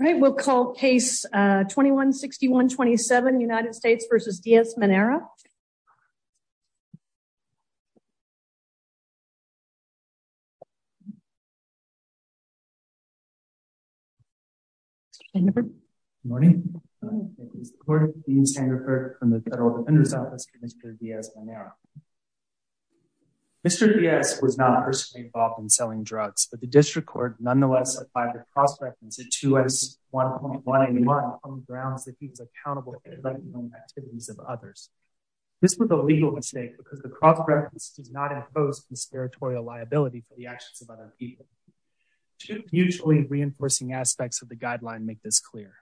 All right, we'll call case 21-61-27 United States v. Diaz-Menera. Mr. Diaz was not personally involved in selling drugs, but the district court nonetheless applied the cross-reference at 2-1.181 on the grounds that he was accountable for neglecting the activities of others. This was a legal mistake because the cross-reference does not impose conspiratorial liability for the actions of other people. Two mutually reinforcing aspects of the guideline make this clear.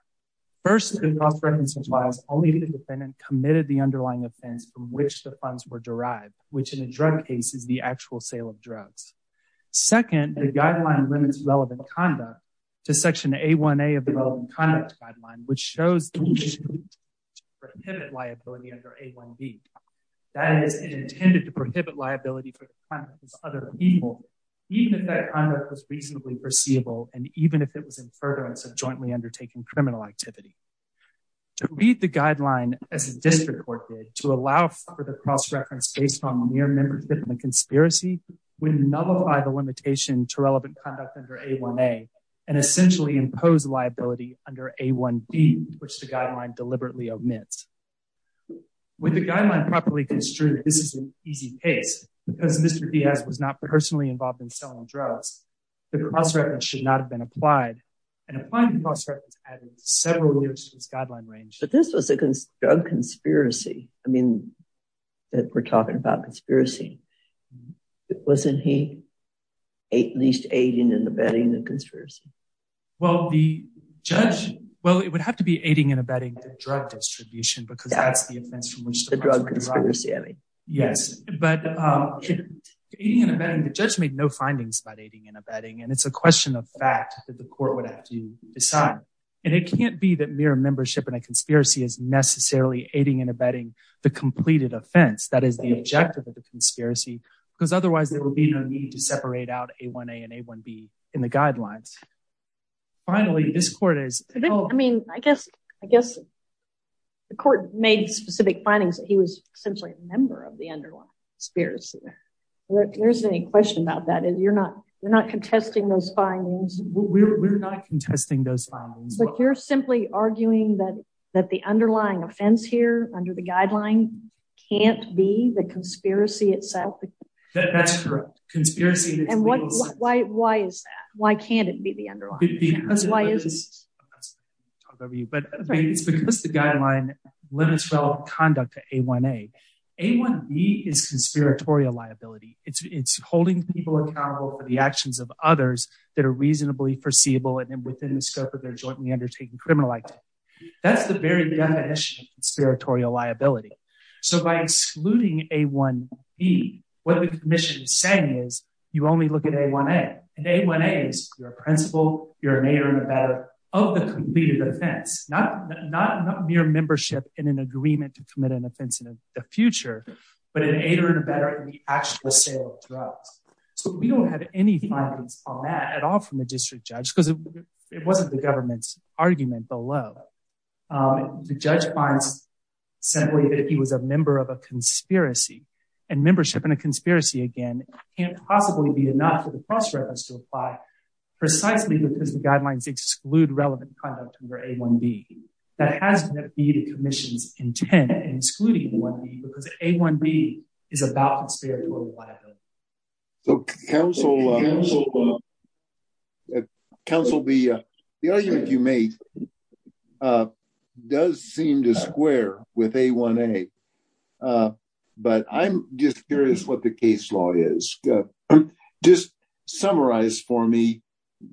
First, the cross-reference implies only the defendant committed the underlying offense from which the funds were derived, which in a drug case is the actual sale of drugs. Second, the guideline limits relevant conduct to section A-1A of the relevant conduct guideline, which shows the intention to prohibit liability under A-1B. That is, it intended to prohibit liability for the conduct of other people, even if that conduct was reasonably perceivable and even if it was in furtherance of jointly undertaking criminal activity. To read the guideline as the district court did, to allow for the cross-reference based on mere membership in the conspiracy would nullify the limitation to relevant conduct under A-1A and essentially impose liability under A-1B, which the guideline deliberately omits. With the guideline properly construed, this is an easy case because Mr. Diaz was not personally involved in selling drugs. The cross-reference should not have been applied, and applying the cross-reference added several limits to this guideline range. But this was a drug conspiracy, I mean, that we're talking about conspiracy. Wasn't he at least aiding and abetting the conspiracy? Well, the judge, well, it would have to be aiding and abetting the drug distribution because that's the offense from which the drug conspiracy, I mean. Yes, but aiding and abetting, the judge made no findings about aiding and abetting, and it's a question of fact that the court would have to decide. And it can't be that mere membership in a conspiracy is necessarily aiding and abetting the completed offense. That is the objective of the conspiracy because otherwise there will be no need to separate out A-1A and A-1B in the guidelines. Finally, this court is- I mean, I guess the court made specific findings that he was essentially a member of the underlying conspiracy. There isn't any question about that, and you're not contesting those findings. We're not contesting those findings. But you're simply arguing that the underlying offense here under the guideline can't be the conspiracy itself? That's correct. Conspiracy- And why is that? Why can't it be the underlying? Because the guideline limits relevant conduct to A-1A. A-1B is conspiratorial liability. It's holding people accountable for the actions of others that are reasonably foreseeable and within the scope of their jointly undertaken criminal That's the very definition of conspiratorial liability. So by excluding A-1B, what the commission is saying is you only look at A-1A. And A-1A is you're a principal, you're an aider and abetter of the completed offense. Not mere membership in an agreement to commit an offense in the future, but an aider and abetter in the actual sale of drugs. So we don't have any at all from the district judge because it wasn't the government's argument below. The judge finds simply that he was a member of a conspiracy. And membership in a conspiracy, again, can't possibly be enough for the cross-reference to apply precisely because the guidelines exclude relevant conduct under A-1B. That has to be the commission's intent in excluding A-1B because A-1B is about conspiratorial liability. So council, council, the argument you made does seem to square with A-1A. But I'm just curious what the case law is. Just summarize for me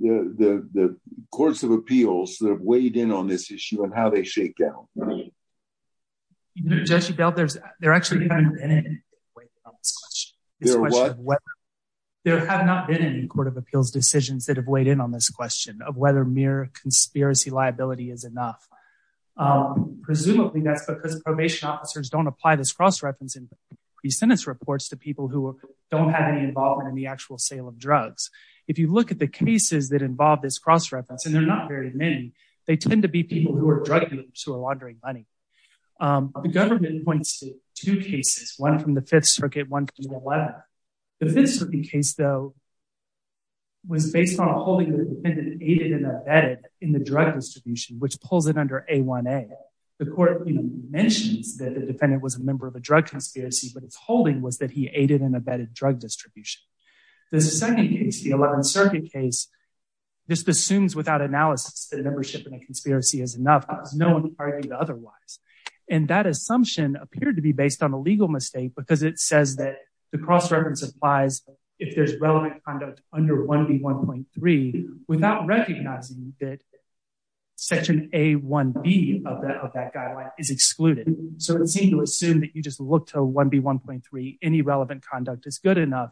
the courts of appeals that have weighed in on this issue and they shake down. There have not been any court of appeals decisions that have weighed in on this question of whether mere conspiracy liability is enough. Presumably that's because probation officers don't apply this cross-reference in pre-sentence reports to people who don't have any involvement in the actual sale of drugs. If you look at the cases that involve this cross-reference, and they're not very many, they tend to be people who are drug users who are laundering money. The government points to two cases, one from the Fifth Circuit, one from the 11th. The Fifth Circuit case, though, was based on a holding that the defendant aided and abetted in the drug distribution, which pulls it under A-1A. The court mentions that the defendant was a member of a drug conspiracy, but its holding was that he aided and abetted drug distribution. There's a second case, the 11th Circuit case. This assumes without analysis that a membership in a conspiracy is enough because no one argued otherwise. And that assumption appeared to be based on a legal mistake because it says that the cross-reference applies if there's relevant conduct under 1B.1.3 without recognizing that section A.1.B of that guideline is excluded. So it seemed to assume that you just look to 1B.1.3, any relevant conduct is good enough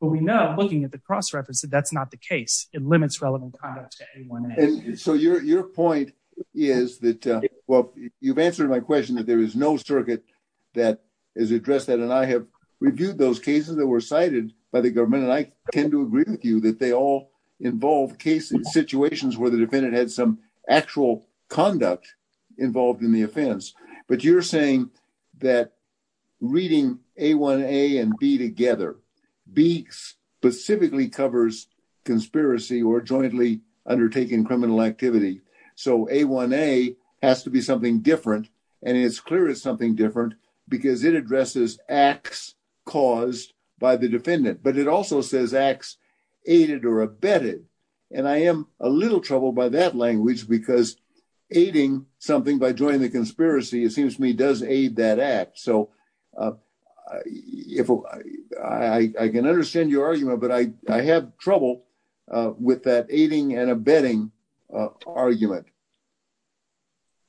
but we know looking at the cross-reference that that's not the case. It limits relevant conduct to A-1A. So your point is that, well, you've answered my question that there is no circuit that has addressed that and I have reviewed those cases that were cited by the government and I tend to agree with you that they all involve cases, situations where the defendant had some actual conduct involved in the offense. But you're saying that reading A-1A and B together, B specifically covers conspiracy or jointly undertaking criminal activity. So A-1A has to be something different and it's clear it's something different because it addresses acts caused by the defendant. But it also says acts aided or abetted. And I am a little troubled by that language because aiding something by joining the conspiracy, it seems to me does aid that act. So I can understand your argument, but I have trouble with that aiding and abetting argument.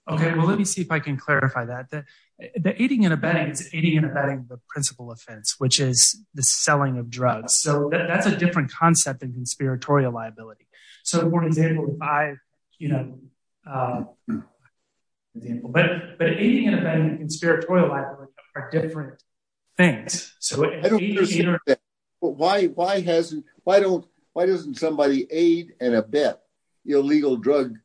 Okay. Well, let me see if I can clarify that. The aiding and abetting is aiding and abetting the principal offense, which is the selling of drugs. So that's a different concept than aiding and abetting. But why doesn't somebody aid and abet illegal drug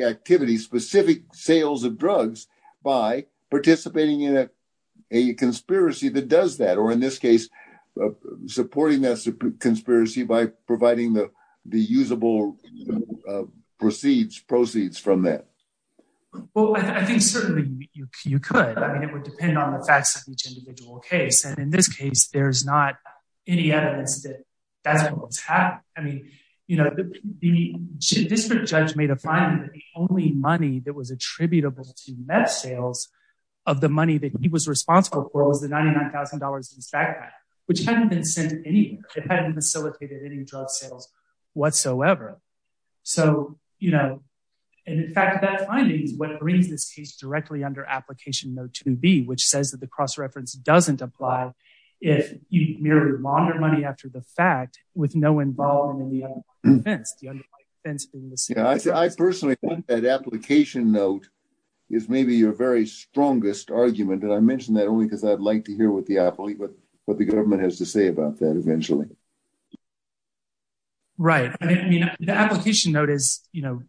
activity, specific sales of drugs, by participating in a conspiracy that does that? Or in this case, supporting that conspiracy by providing the usable proceeds from that? Well, I think certainly you could. I mean, it would depend on the facts of each individual case. And in this case, there's not any evidence that that's what was happening. I mean, district judge made a finding that the only money that was attributable to meth sales of the money that he was responsible for was the $99,000 in his backpack, which hadn't been found. And that finding is what brings this case directly under application note 2B, which says that the cross-reference doesn't apply if you mirrored laundered money after the fact with no involvement in the offense. I personally think that application note is maybe your very strongest argument. And I mentioned that only because I'd like to hear what the government has to say about that eventually. Right. I mean, the application note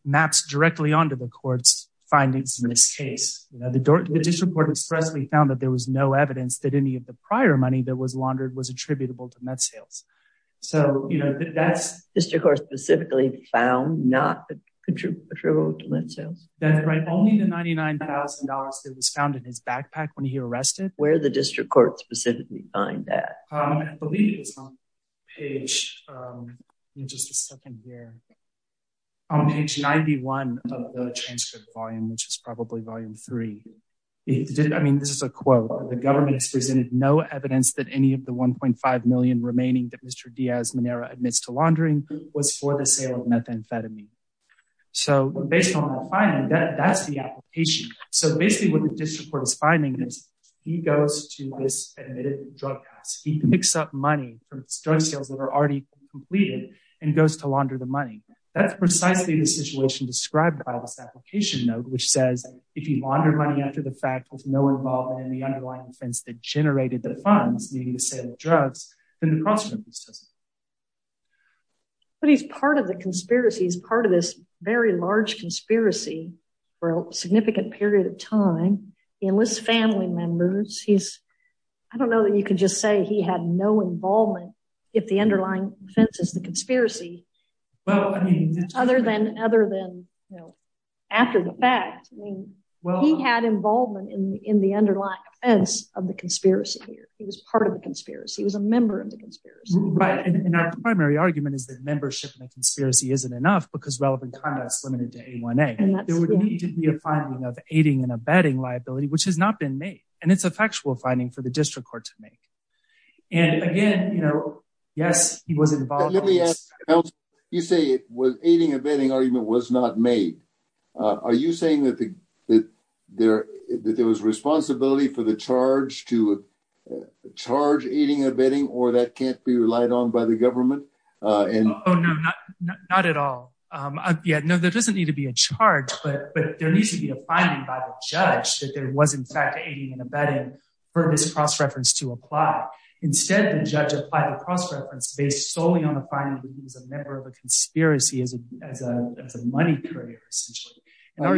maps directly onto the court's findings in this case. The district court expressly found that there was no evidence that any of the prior money that was laundered was attributable to meth sales. So, you know, that's... District court specifically found not attributable to meth sales? That's right. Only the $99,000 that was found in his backpack when he arrested. Where did the district court specifically find that? I believe it's on page... Give me just a second here. On page 91 of the transcript volume, which is probably volume three. I mean, this is a quote. The government has presented no evidence that any of the $1.5 million remaining that Mr. Diaz-Monero admits to laundering was for the sale of methamphetamine. So based on that finding, that's the application. So basically what the drug does, he picks up money from drug sales that are already completed and goes to launder the money. That's precisely the situation described by this application note, which says if he laundered money after the fact with no involvement in the underlying offense that generated the funds, meaning the sale of drugs, then the prostitution system. But he's part of the conspiracy. He's part of this very large conspiracy for a significant period of time. He enlists family members. He's... I don't know that you could just say he had no involvement if the underlying offense is the conspiracy other than after the fact. He had involvement in the underlying offense of the conspiracy here. He was part of the conspiracy. He was a member of the conspiracy. Right. And our primary argument is that membership in the conspiracy isn't enough because relevant conduct is limited to A1A. There would need to be a finding of aiding and abetting liability, which has not been made. And it's a factual finding for the district court to make. And again, yes, he was involved. You say it was aiding and abetting argument was not made. Are you saying that there was responsibility for the charge to charge aiding and abetting or that can't be relied on by the But there needs to be a finding by the judge that there was in fact aiding and abetting for this cross-reference to apply. Instead, the judge applied the cross-reference based solely on the finding that he was a member of a conspiracy as a money creator, essentially. I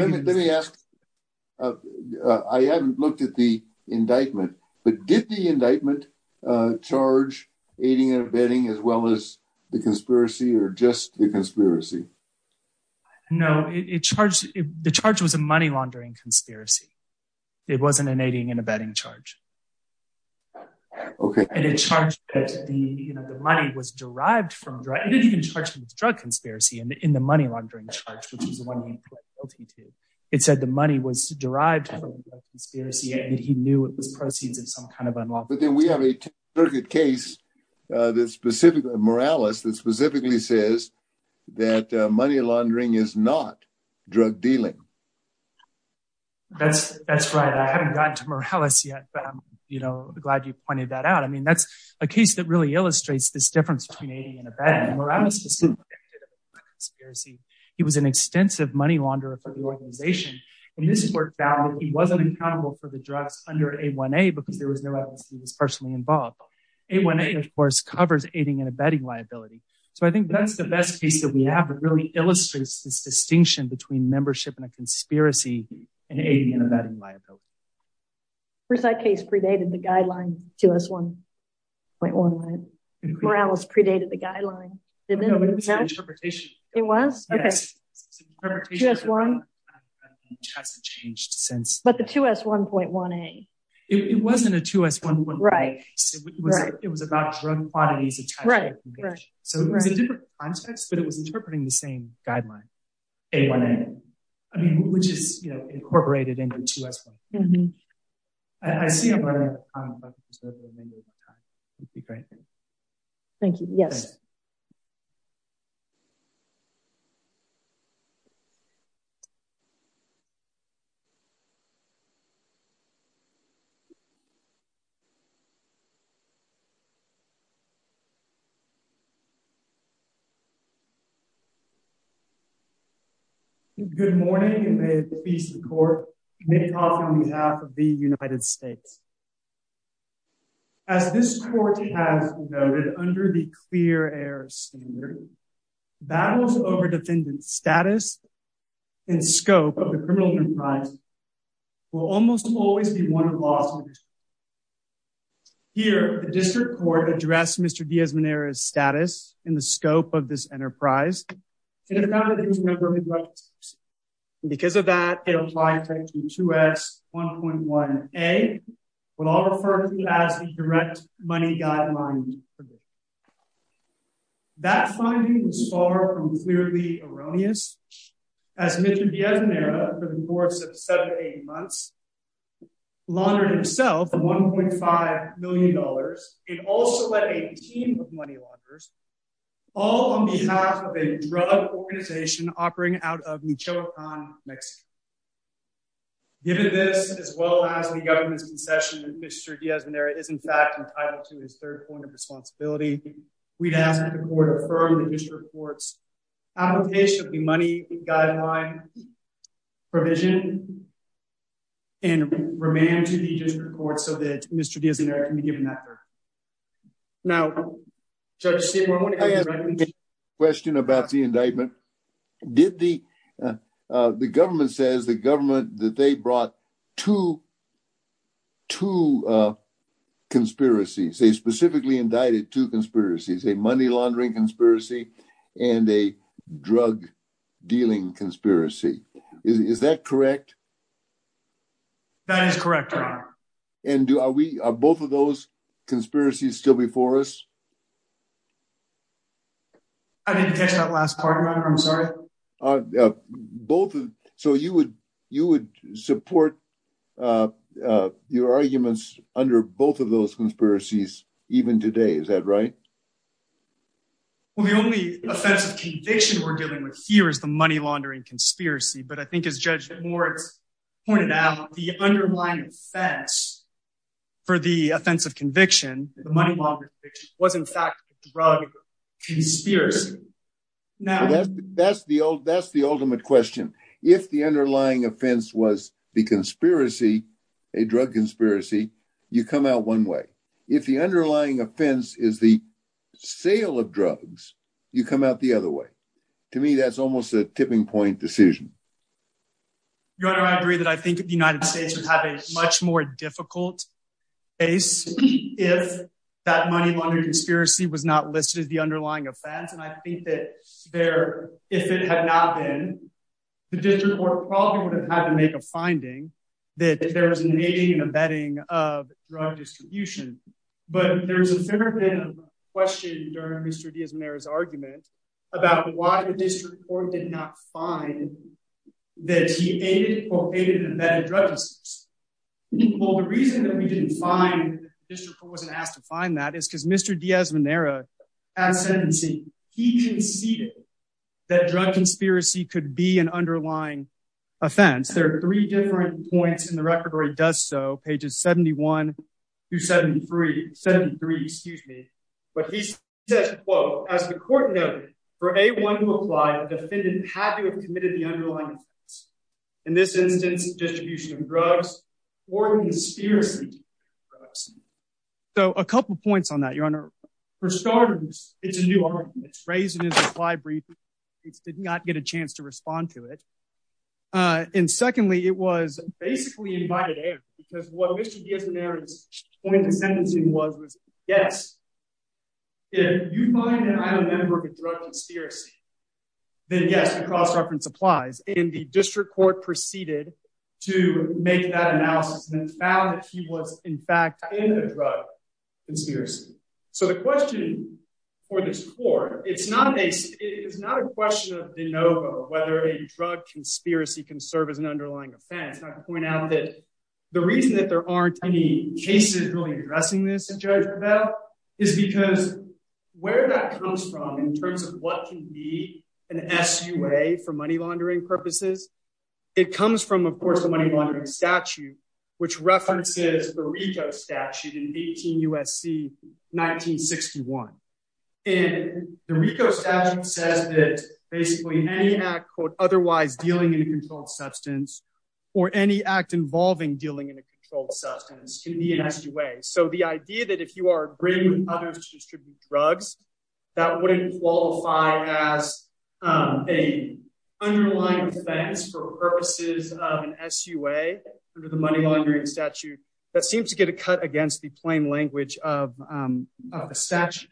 haven't looked at the indictment, but did the indictment charge aiding and abetting as well as the conspiracy or just the conspiracy? No, it charged the charge was a money laundering conspiracy. It wasn't an aiding and abetting charge. And it charged that the money was derived from the drug conspiracy in the money laundering charge, which was the one he pled guilty to. It said the money was derived from the conspiracy and that he knew it was proceeds of some kind of unlawful. We have a case that specifically says that money laundering is not drug dealing. That's right. I haven't gotten to Morales yet, but I'm glad you pointed that out. I mean, that's a case that really illustrates this difference between aiding and abetting. He was an extensive money launderer for the organization. And this court found that he personally involved. It covers aiding and abetting liability. So I think that's the best piece that we have that really illustrates this distinction between membership and a conspiracy and aiding and abetting liability. That case predated the guideline 2S1.1. Morales predated the guideline. It was? Okay. But the 2S1.1A. It wasn't a 2S1.1A. It was about drug quantities. So it was a different context, but it was interpreting the same guideline, A1A. I mean, which is incorporated into 2S1.1. I see a lot of time. Thank you. Yes. Thank you. Good morning, and may it please the court, Nate Hoffman on behalf of the United States. As this court has noted under the clear air standard, battles over defendant status and scope of the criminal enterprise will almost always be one of loss. Here, the district court addressed Mr. Diaz-Monero's status in the scope of this enterprise. And because of that, it applied to 2S1.1A, what I'll refer to as the direct money guideline. That finding was far from clearly erroneous as Mr. Diaz-Monero, for the course of seven, eight months, laundered himself $1.5 million. It also led a team of money launderers all on behalf of a drug organization operating out of Michoacan, Mexico. Given this, as well as the government's concession that Mr. Diaz-Monero is in fact entitled to his third point of responsibility, we'd ask that the court affirm the district court's application of the money guideline provision and remand to the district court so that Mr. Diaz-Monero can be given that verdict. Now, Judge Seymour, I have a question about the indictment. The government says the government that they brought two conspiracies. They specifically indicted two conspiracies, a money laundering conspiracy and a drug dealing conspiracy. Is that correct? That is correct, Your Honor. And are both of those conspiracies still before us? I didn't catch that last part, Your Honor. I'm sorry. So you would support your arguments under both of those conspiracies even today, is that right? Well, the only offensive conviction we're dealing with here is the money laundering conspiracy. But I think as Judge Seymour pointed out, the underlying offense for the offensive conviction, the money laundering conviction, was in fact a drug conspiracy. Now, that's the ultimate question. If the underlying offense was the conspiracy, a drug conspiracy, you come out one way. If the underlying offense is the sale of drugs, you come out the other way. To me, that's almost a tipping point decision. Your Honor, I agree that I think the United States would have a much more difficult case if that money laundering conspiracy was not listed as the underlying offense. And I think that if it had not been, the district court probably would have had to make a finding that there was an aiding and abetting of drug distribution. But there's a fair bit of question during Mr. Diaz-Mera's argument about why the district court did not find that he aided or abetted drug use. Well, the reason that we didn't find, the district court wasn't asked to find that is because Mr. Diaz-Mera, at sentencing, he conceded that drug conspiracy could be an underlying offense. There are three different points in the record where he does so, pages 71 to 73, excuse me. But he says, quote, as the court noted, for A1 who applied, the defendant had to have committed the underlying offense. In this instance, distribution of drugs or conspiracy drugs. So a couple of points on that, Your Honor. For starters, it's a new argument. It's raised in his reply brief. He did not get a chance to respond to it. And secondly, it was basically invited air because what Mr. Diaz-Mera's point was, was yes. If you find that I'm a member of a drug conspiracy, then yes, the cross-reference applies. And the district court proceeded to make that analysis and found that he was in fact in a drug conspiracy. So the question for this court, it's not a question of de novo whether a drug conspiracy can serve as an underlying offense. And I point out that the reason that there aren't any cases really addressing this at Judge Prevelle is because where that comes from in terms of what can be an SUA for money laundering purposes, it comes from, of course, the money laundering statute, which references the RICO statute in 18 U.S.C. 1961. And the RICO statute says that basically any act, quote, otherwise dealing in a controlled substance or any act involving dealing in a SUA. So the idea that if you are agreeing with others to distribute drugs, that wouldn't qualify as a underlying offense for purposes of an SUA under the money laundering statute, that seems to get a cut against the plain language of a statute.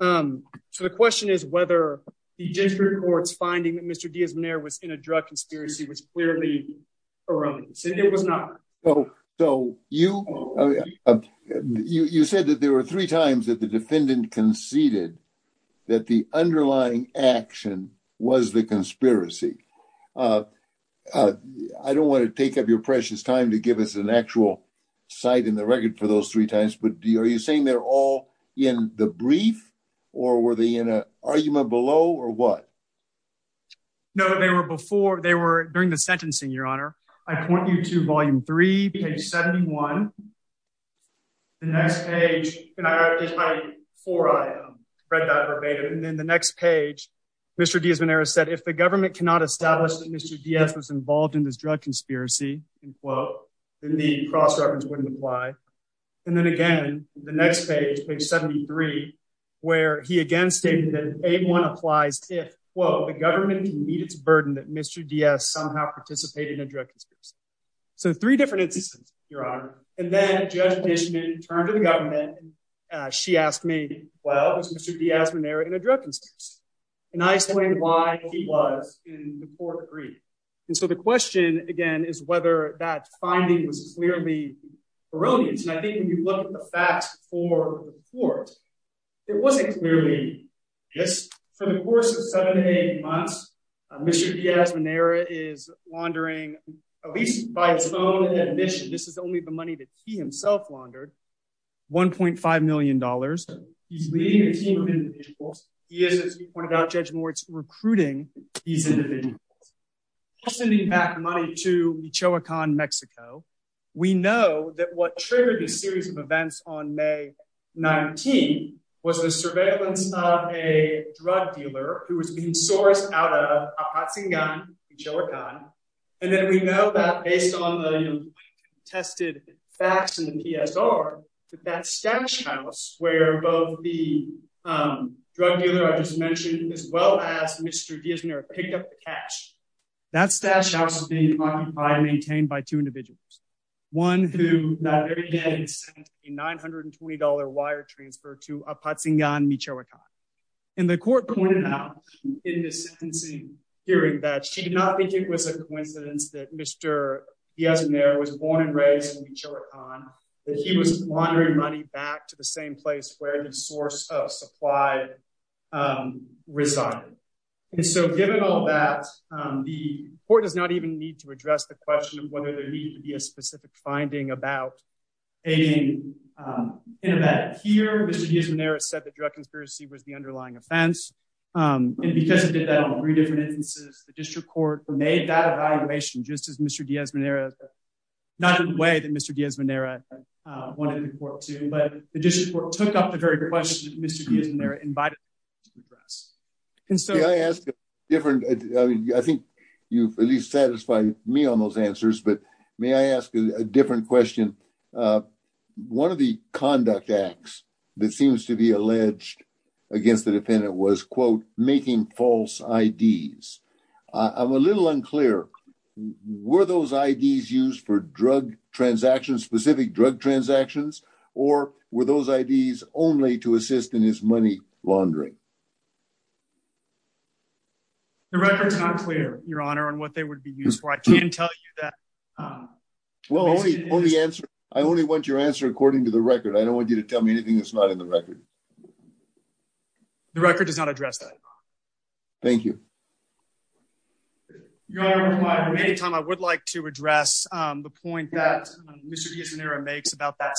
So the question is whether the district court's finding that Mr. Diaz-Mera was in a drug conspiracy was clearly erroneous, and it was not. So you said that there were three times that the defendant conceded that the underlying action was the conspiracy. I don't want to take up your precious time to give us an actual cite in the record for those three times, but are you saying they're all in the brief or were they in an argument below or what? No, they were before. They were during the sentencing, your honor. I point you to volume three, page 71. The next page, and I read that verbatim. And then the next page, Mr. Diaz-Mera said, if the government cannot establish that Mr. Diaz was involved in this drug conspiracy, then the cross-reference wouldn't apply. And then again, the next page, page 73, where he again stated that A1 applies if, quote, the government can meet its burden that Mr. Diaz somehow participated in a drug conspiracy. So three different instances, your honor. And then Judge Nishman turned to the government. She asked me, well, was Mr. Diaz-Mera in a drug conspiracy? And I explained why he was in the court brief. And so the question again is whether that finding was clearly erroneous. And I think when you look at the facts for the court, it wasn't clearly. For the course of seven to eight months, Mr. Diaz-Mera is laundering, at least by his own admission, this is only the money that he himself laundered, $1.5 million. He's leading a team of individuals. He is, as we pointed out, Judge Moritz, recruiting these individuals. He's sending back money to Michoacan, Mexico. We know that what triggered this series of events on May 19 was the surveillance of a drug dealer who was being sourced out of Apatzingan, Michoacan. And then we know that based on the tested facts in the PSR, that that stash house where both the drug dealer I just mentioned as well as Mr. Diaz-Mera picked up the cash, that stash house is being occupied and one who sent a $920 wire transfer to Apatzingan, Michoacan. And the court pointed out in the sentencing hearing that she did not think it was a coincidence that Mr. Diaz-Mera was born and raised in Michoacan, that he was laundering money back to the same place where the source of supply resided. And so given all that, the court does not even need to address the question whether there needed to be a specific finding about aiding in that here, Mr. Diaz-Mera said that drug conspiracy was the underlying offense. And because it did that on three different instances, the district court made that evaluation just as Mr. Diaz-Mera, not in the way that Mr. Diaz-Mera wanted to report to, but the district court took up the very question that Mr. Diaz-Mera invited to address. And so- Different, I think you've at least satisfied me on those answers, but may I ask a different question? One of the conduct acts that seems to be alleged against the defendant was, quote, making false IDs. I'm a little unclear, were those IDs used for drug transactions, specific drug transactions, or were those IDs only to assist in his money laundering? The record's not clear, your honor, on what they would be used for. I can tell you that- Well, only answer, I only want your answer according to the record. I don't want you to tell me anything that's not in the record. The record does not address that. Thank you. Your honor, at the time, I would like to address the point that Mr. Diaz-Mera makes about that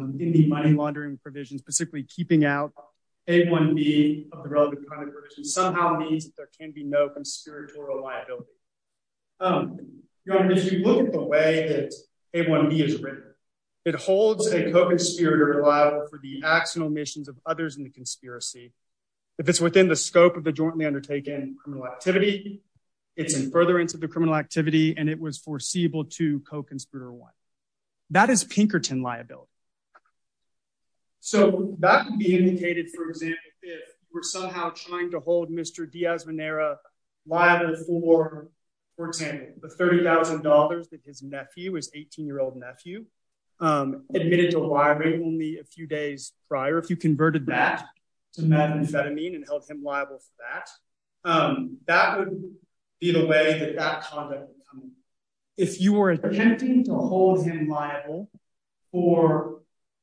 in the money laundering provisions, specifically keeping out A1B of the relevant criminal provisions somehow means that there can be no conspiratorial liability. Your honor, as you look at the way that A1B is written, it holds a co-conspirator liable for the actual omissions of others in the conspiracy. If it's within the scope of the jointly undertaken criminal activity, it's in furtherance of the criminal activity, and it was foreseeable to co-conspirator one. That is Pinkerton liability. So that would be indicated, for example, if we're somehow trying to hold Mr. Diaz-Mera liable for, for example, the $30,000 that his nephew, his 18-year-old nephew, admitted to wiring only a few days prior, if you converted that to methamphetamine and held him liable. If you were attempting to hold him liable for,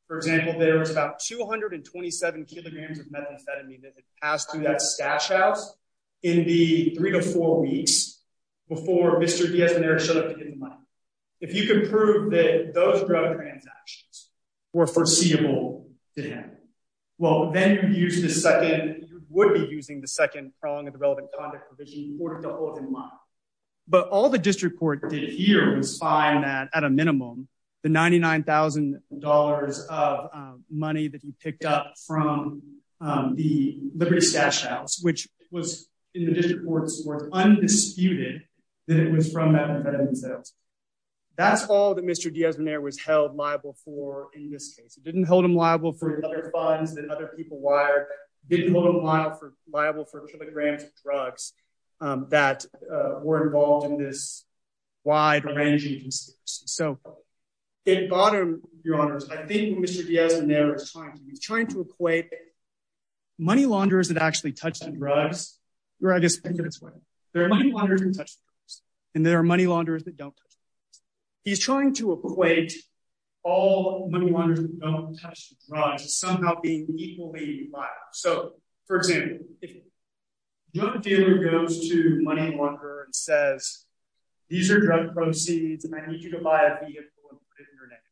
for example, there was about 227 kilograms of methamphetamine that had passed through that stash house in the three to four weeks before Mr. Diaz-Mera showed up to get the money. If you can prove that those drug transactions were foreseeable to him, well, then you would be using the second prong of the relevant provision in order to hold him liable. But all the district court did here was find that, at a minimum, the $99,000 of money that he picked up from the liberty stash house, which was, in the district court's words, undisputed that it was from methamphetamine sales. That's all that Mr. Diaz-Mera was held liable for in this case. He didn't hold him liable for other funds that other people wired, didn't hold him liable for kilograms of drugs that were involved in this wide-ranging incident. So, in bottom, Your Honors, I think Mr. Diaz-Mera is trying to equate money launderers that actually touch the drugs, or I guess, there are money launderers that touch the drugs, and there are money launderers that don't touch the drugs. He's trying to equate all money launderers that don't touch the drugs as somehow being equally liable. So, for example, if a drug dealer goes to a money launderer and says, these are drug proceeds, and I need you to buy a vehicle and put it in your name,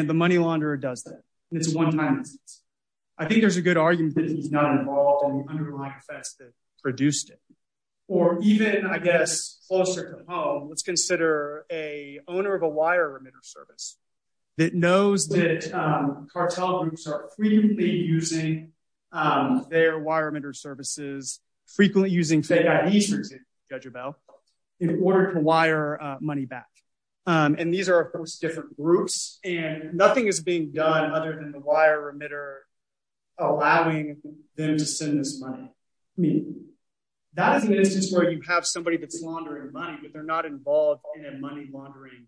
and the money launderer does that, and it's a one-time instance, I think there's a good argument that he's not involved in the underlying effects that produced it. Or even, I guess, closer to home, let's consider an owner of a wire emitter service that knows that cartel groups are frequently using their wire emitter services, frequently using fake ID services, Judge Abell, in order to wire money back. And these are, of course, different groups, and nothing is being done other than the wire emitter allowing them to send this money. I mean, that is an instance where you have somebody that's laundering money, but they're not involved in a money laundering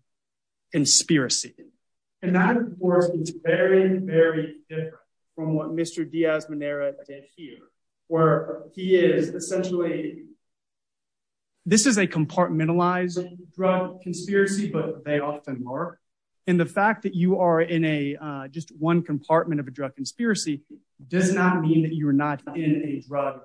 conspiracy. And that, of course, is very, very different from what Mr. Diaz-Monera did here, where he is essentially, this is a compartmentalized drug conspiracy, but they often are. And the fact that you are in a, just one compartment of a drug conspiracy does not mean that you are not in a drug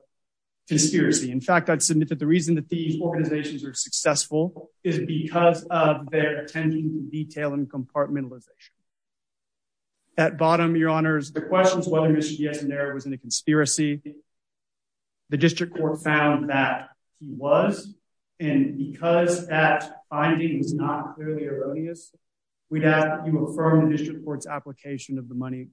conspiracy. In fact, I'd submit that the reason that these organizations are successful is because of their attention to detail and compartmentalization. At bottom, your honors, the question is whether Mr. Diaz-Monera was in a conspiracy. The district court found that he was, and because that finding is not clearly erroneous, we doubt you affirm the district court's application of the money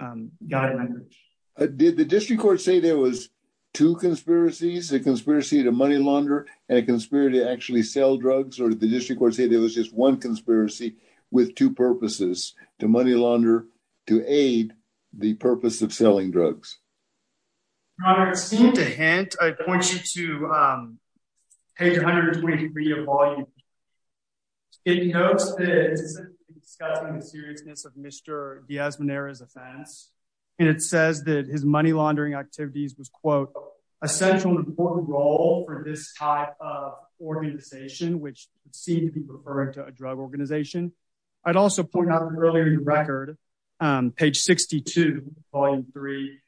guy language. Did the district court say there was two conspiracies, a conspiracy to money launder and a conspiracy to actually sell drugs? Or did the district court say there was just one conspiracy with two purposes, to money launder, to aid the purpose of selling drugs? Robert, seem to hint, I point you to page 123 of volume. It notes that it's discussing the Diaz-Monera's offense. And it says that his money laundering activities was quote, essential and important role for this type of organization, which seemed to be referring to a drug organization. I'd also point out earlier in the record, page 62, volume three,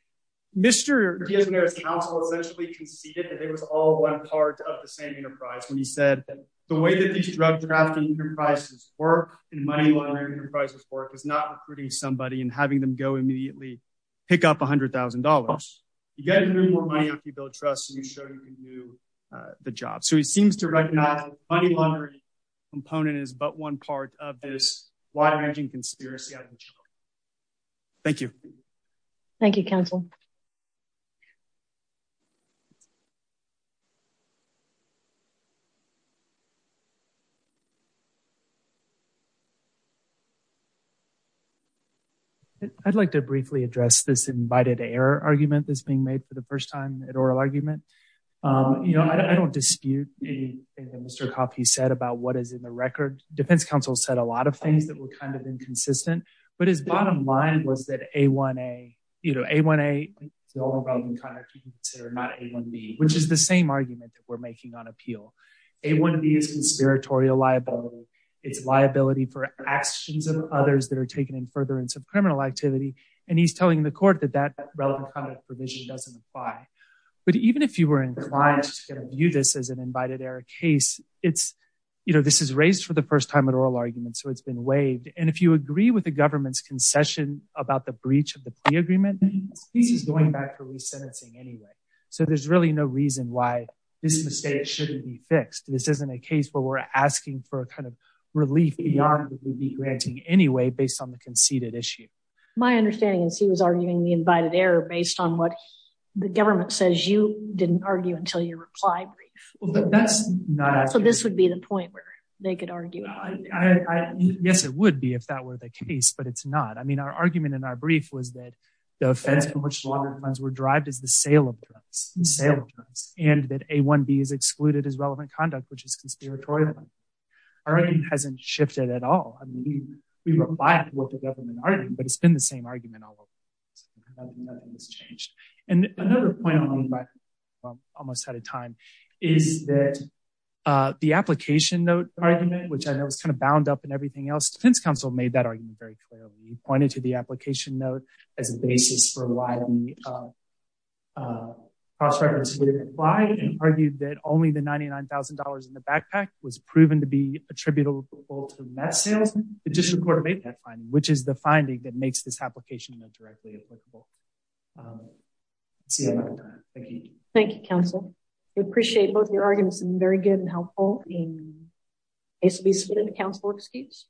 Mr. Diaz-Monera's counsel essentially conceded that they was all one part of the same enterprise. When he said the way that these drug drafting enterprises work and money laundering enterprises work is not hurting somebody and having them go immediately pick up $100,000. You get more money if you build trust and you show you can do the job. So he seems to recognize the money laundering component is but one part of this wide ranging conspiracy. Thank you. Thank you, counsel. I'd like to briefly address this invited error argument that's being made for the first time at oral argument. You know, I don't dispute anything Mr. Coffey said about what is in the record. Defense counsel said a lot of things that were kind of inconsistent. But his bottom line was that A1A, you know, A1A, the only relevant conduct you can consider, not A1B, which is the same argument that we're making on appeal. A1B is conspiratorial liability. It's liability for others that are taken in further in some criminal activity. And he's telling the court that that relevant kind of provision doesn't apply. But even if you were inclined to view this as an invited error case, it's, you know, this is raised for the first time at oral argument. So it's been waived. And if you agree with the government's concession about the breach of the agreement, this is going back to resentencing anyway. So there's really no reason why this mistake shouldn't be fixed. This isn't a case where we're asking for a kind of relief beyond what we'd be granting anyway, based on the conceded issue. My understanding is he was arguing the invited error based on what the government says you didn't argue until your reply brief. So this would be the point where they could argue. Yes, it would be if that were the case, but it's not. I mean, our argument in our brief was that the offense for which the which is conspiratorial. Our argument hasn't shifted at all. I mean, we replied to what the government argued, but it's been the same argument all along. Nothing has changed. And another point on the invite, almost out of time, is that the application note argument, which I know is kind of bound up and everything else, defense counsel made that argument very clearly. He pointed to the application note as a basis for why the cross-reference wouldn't apply and argued that only the $99,000 in the backpack was proven to be attributable to mass sales. It just recorded that finding, which is the finding that makes this application directly applicable. Thank you, counsel. We appreciate both your arguments and very good and helpful. It's been a council excuse.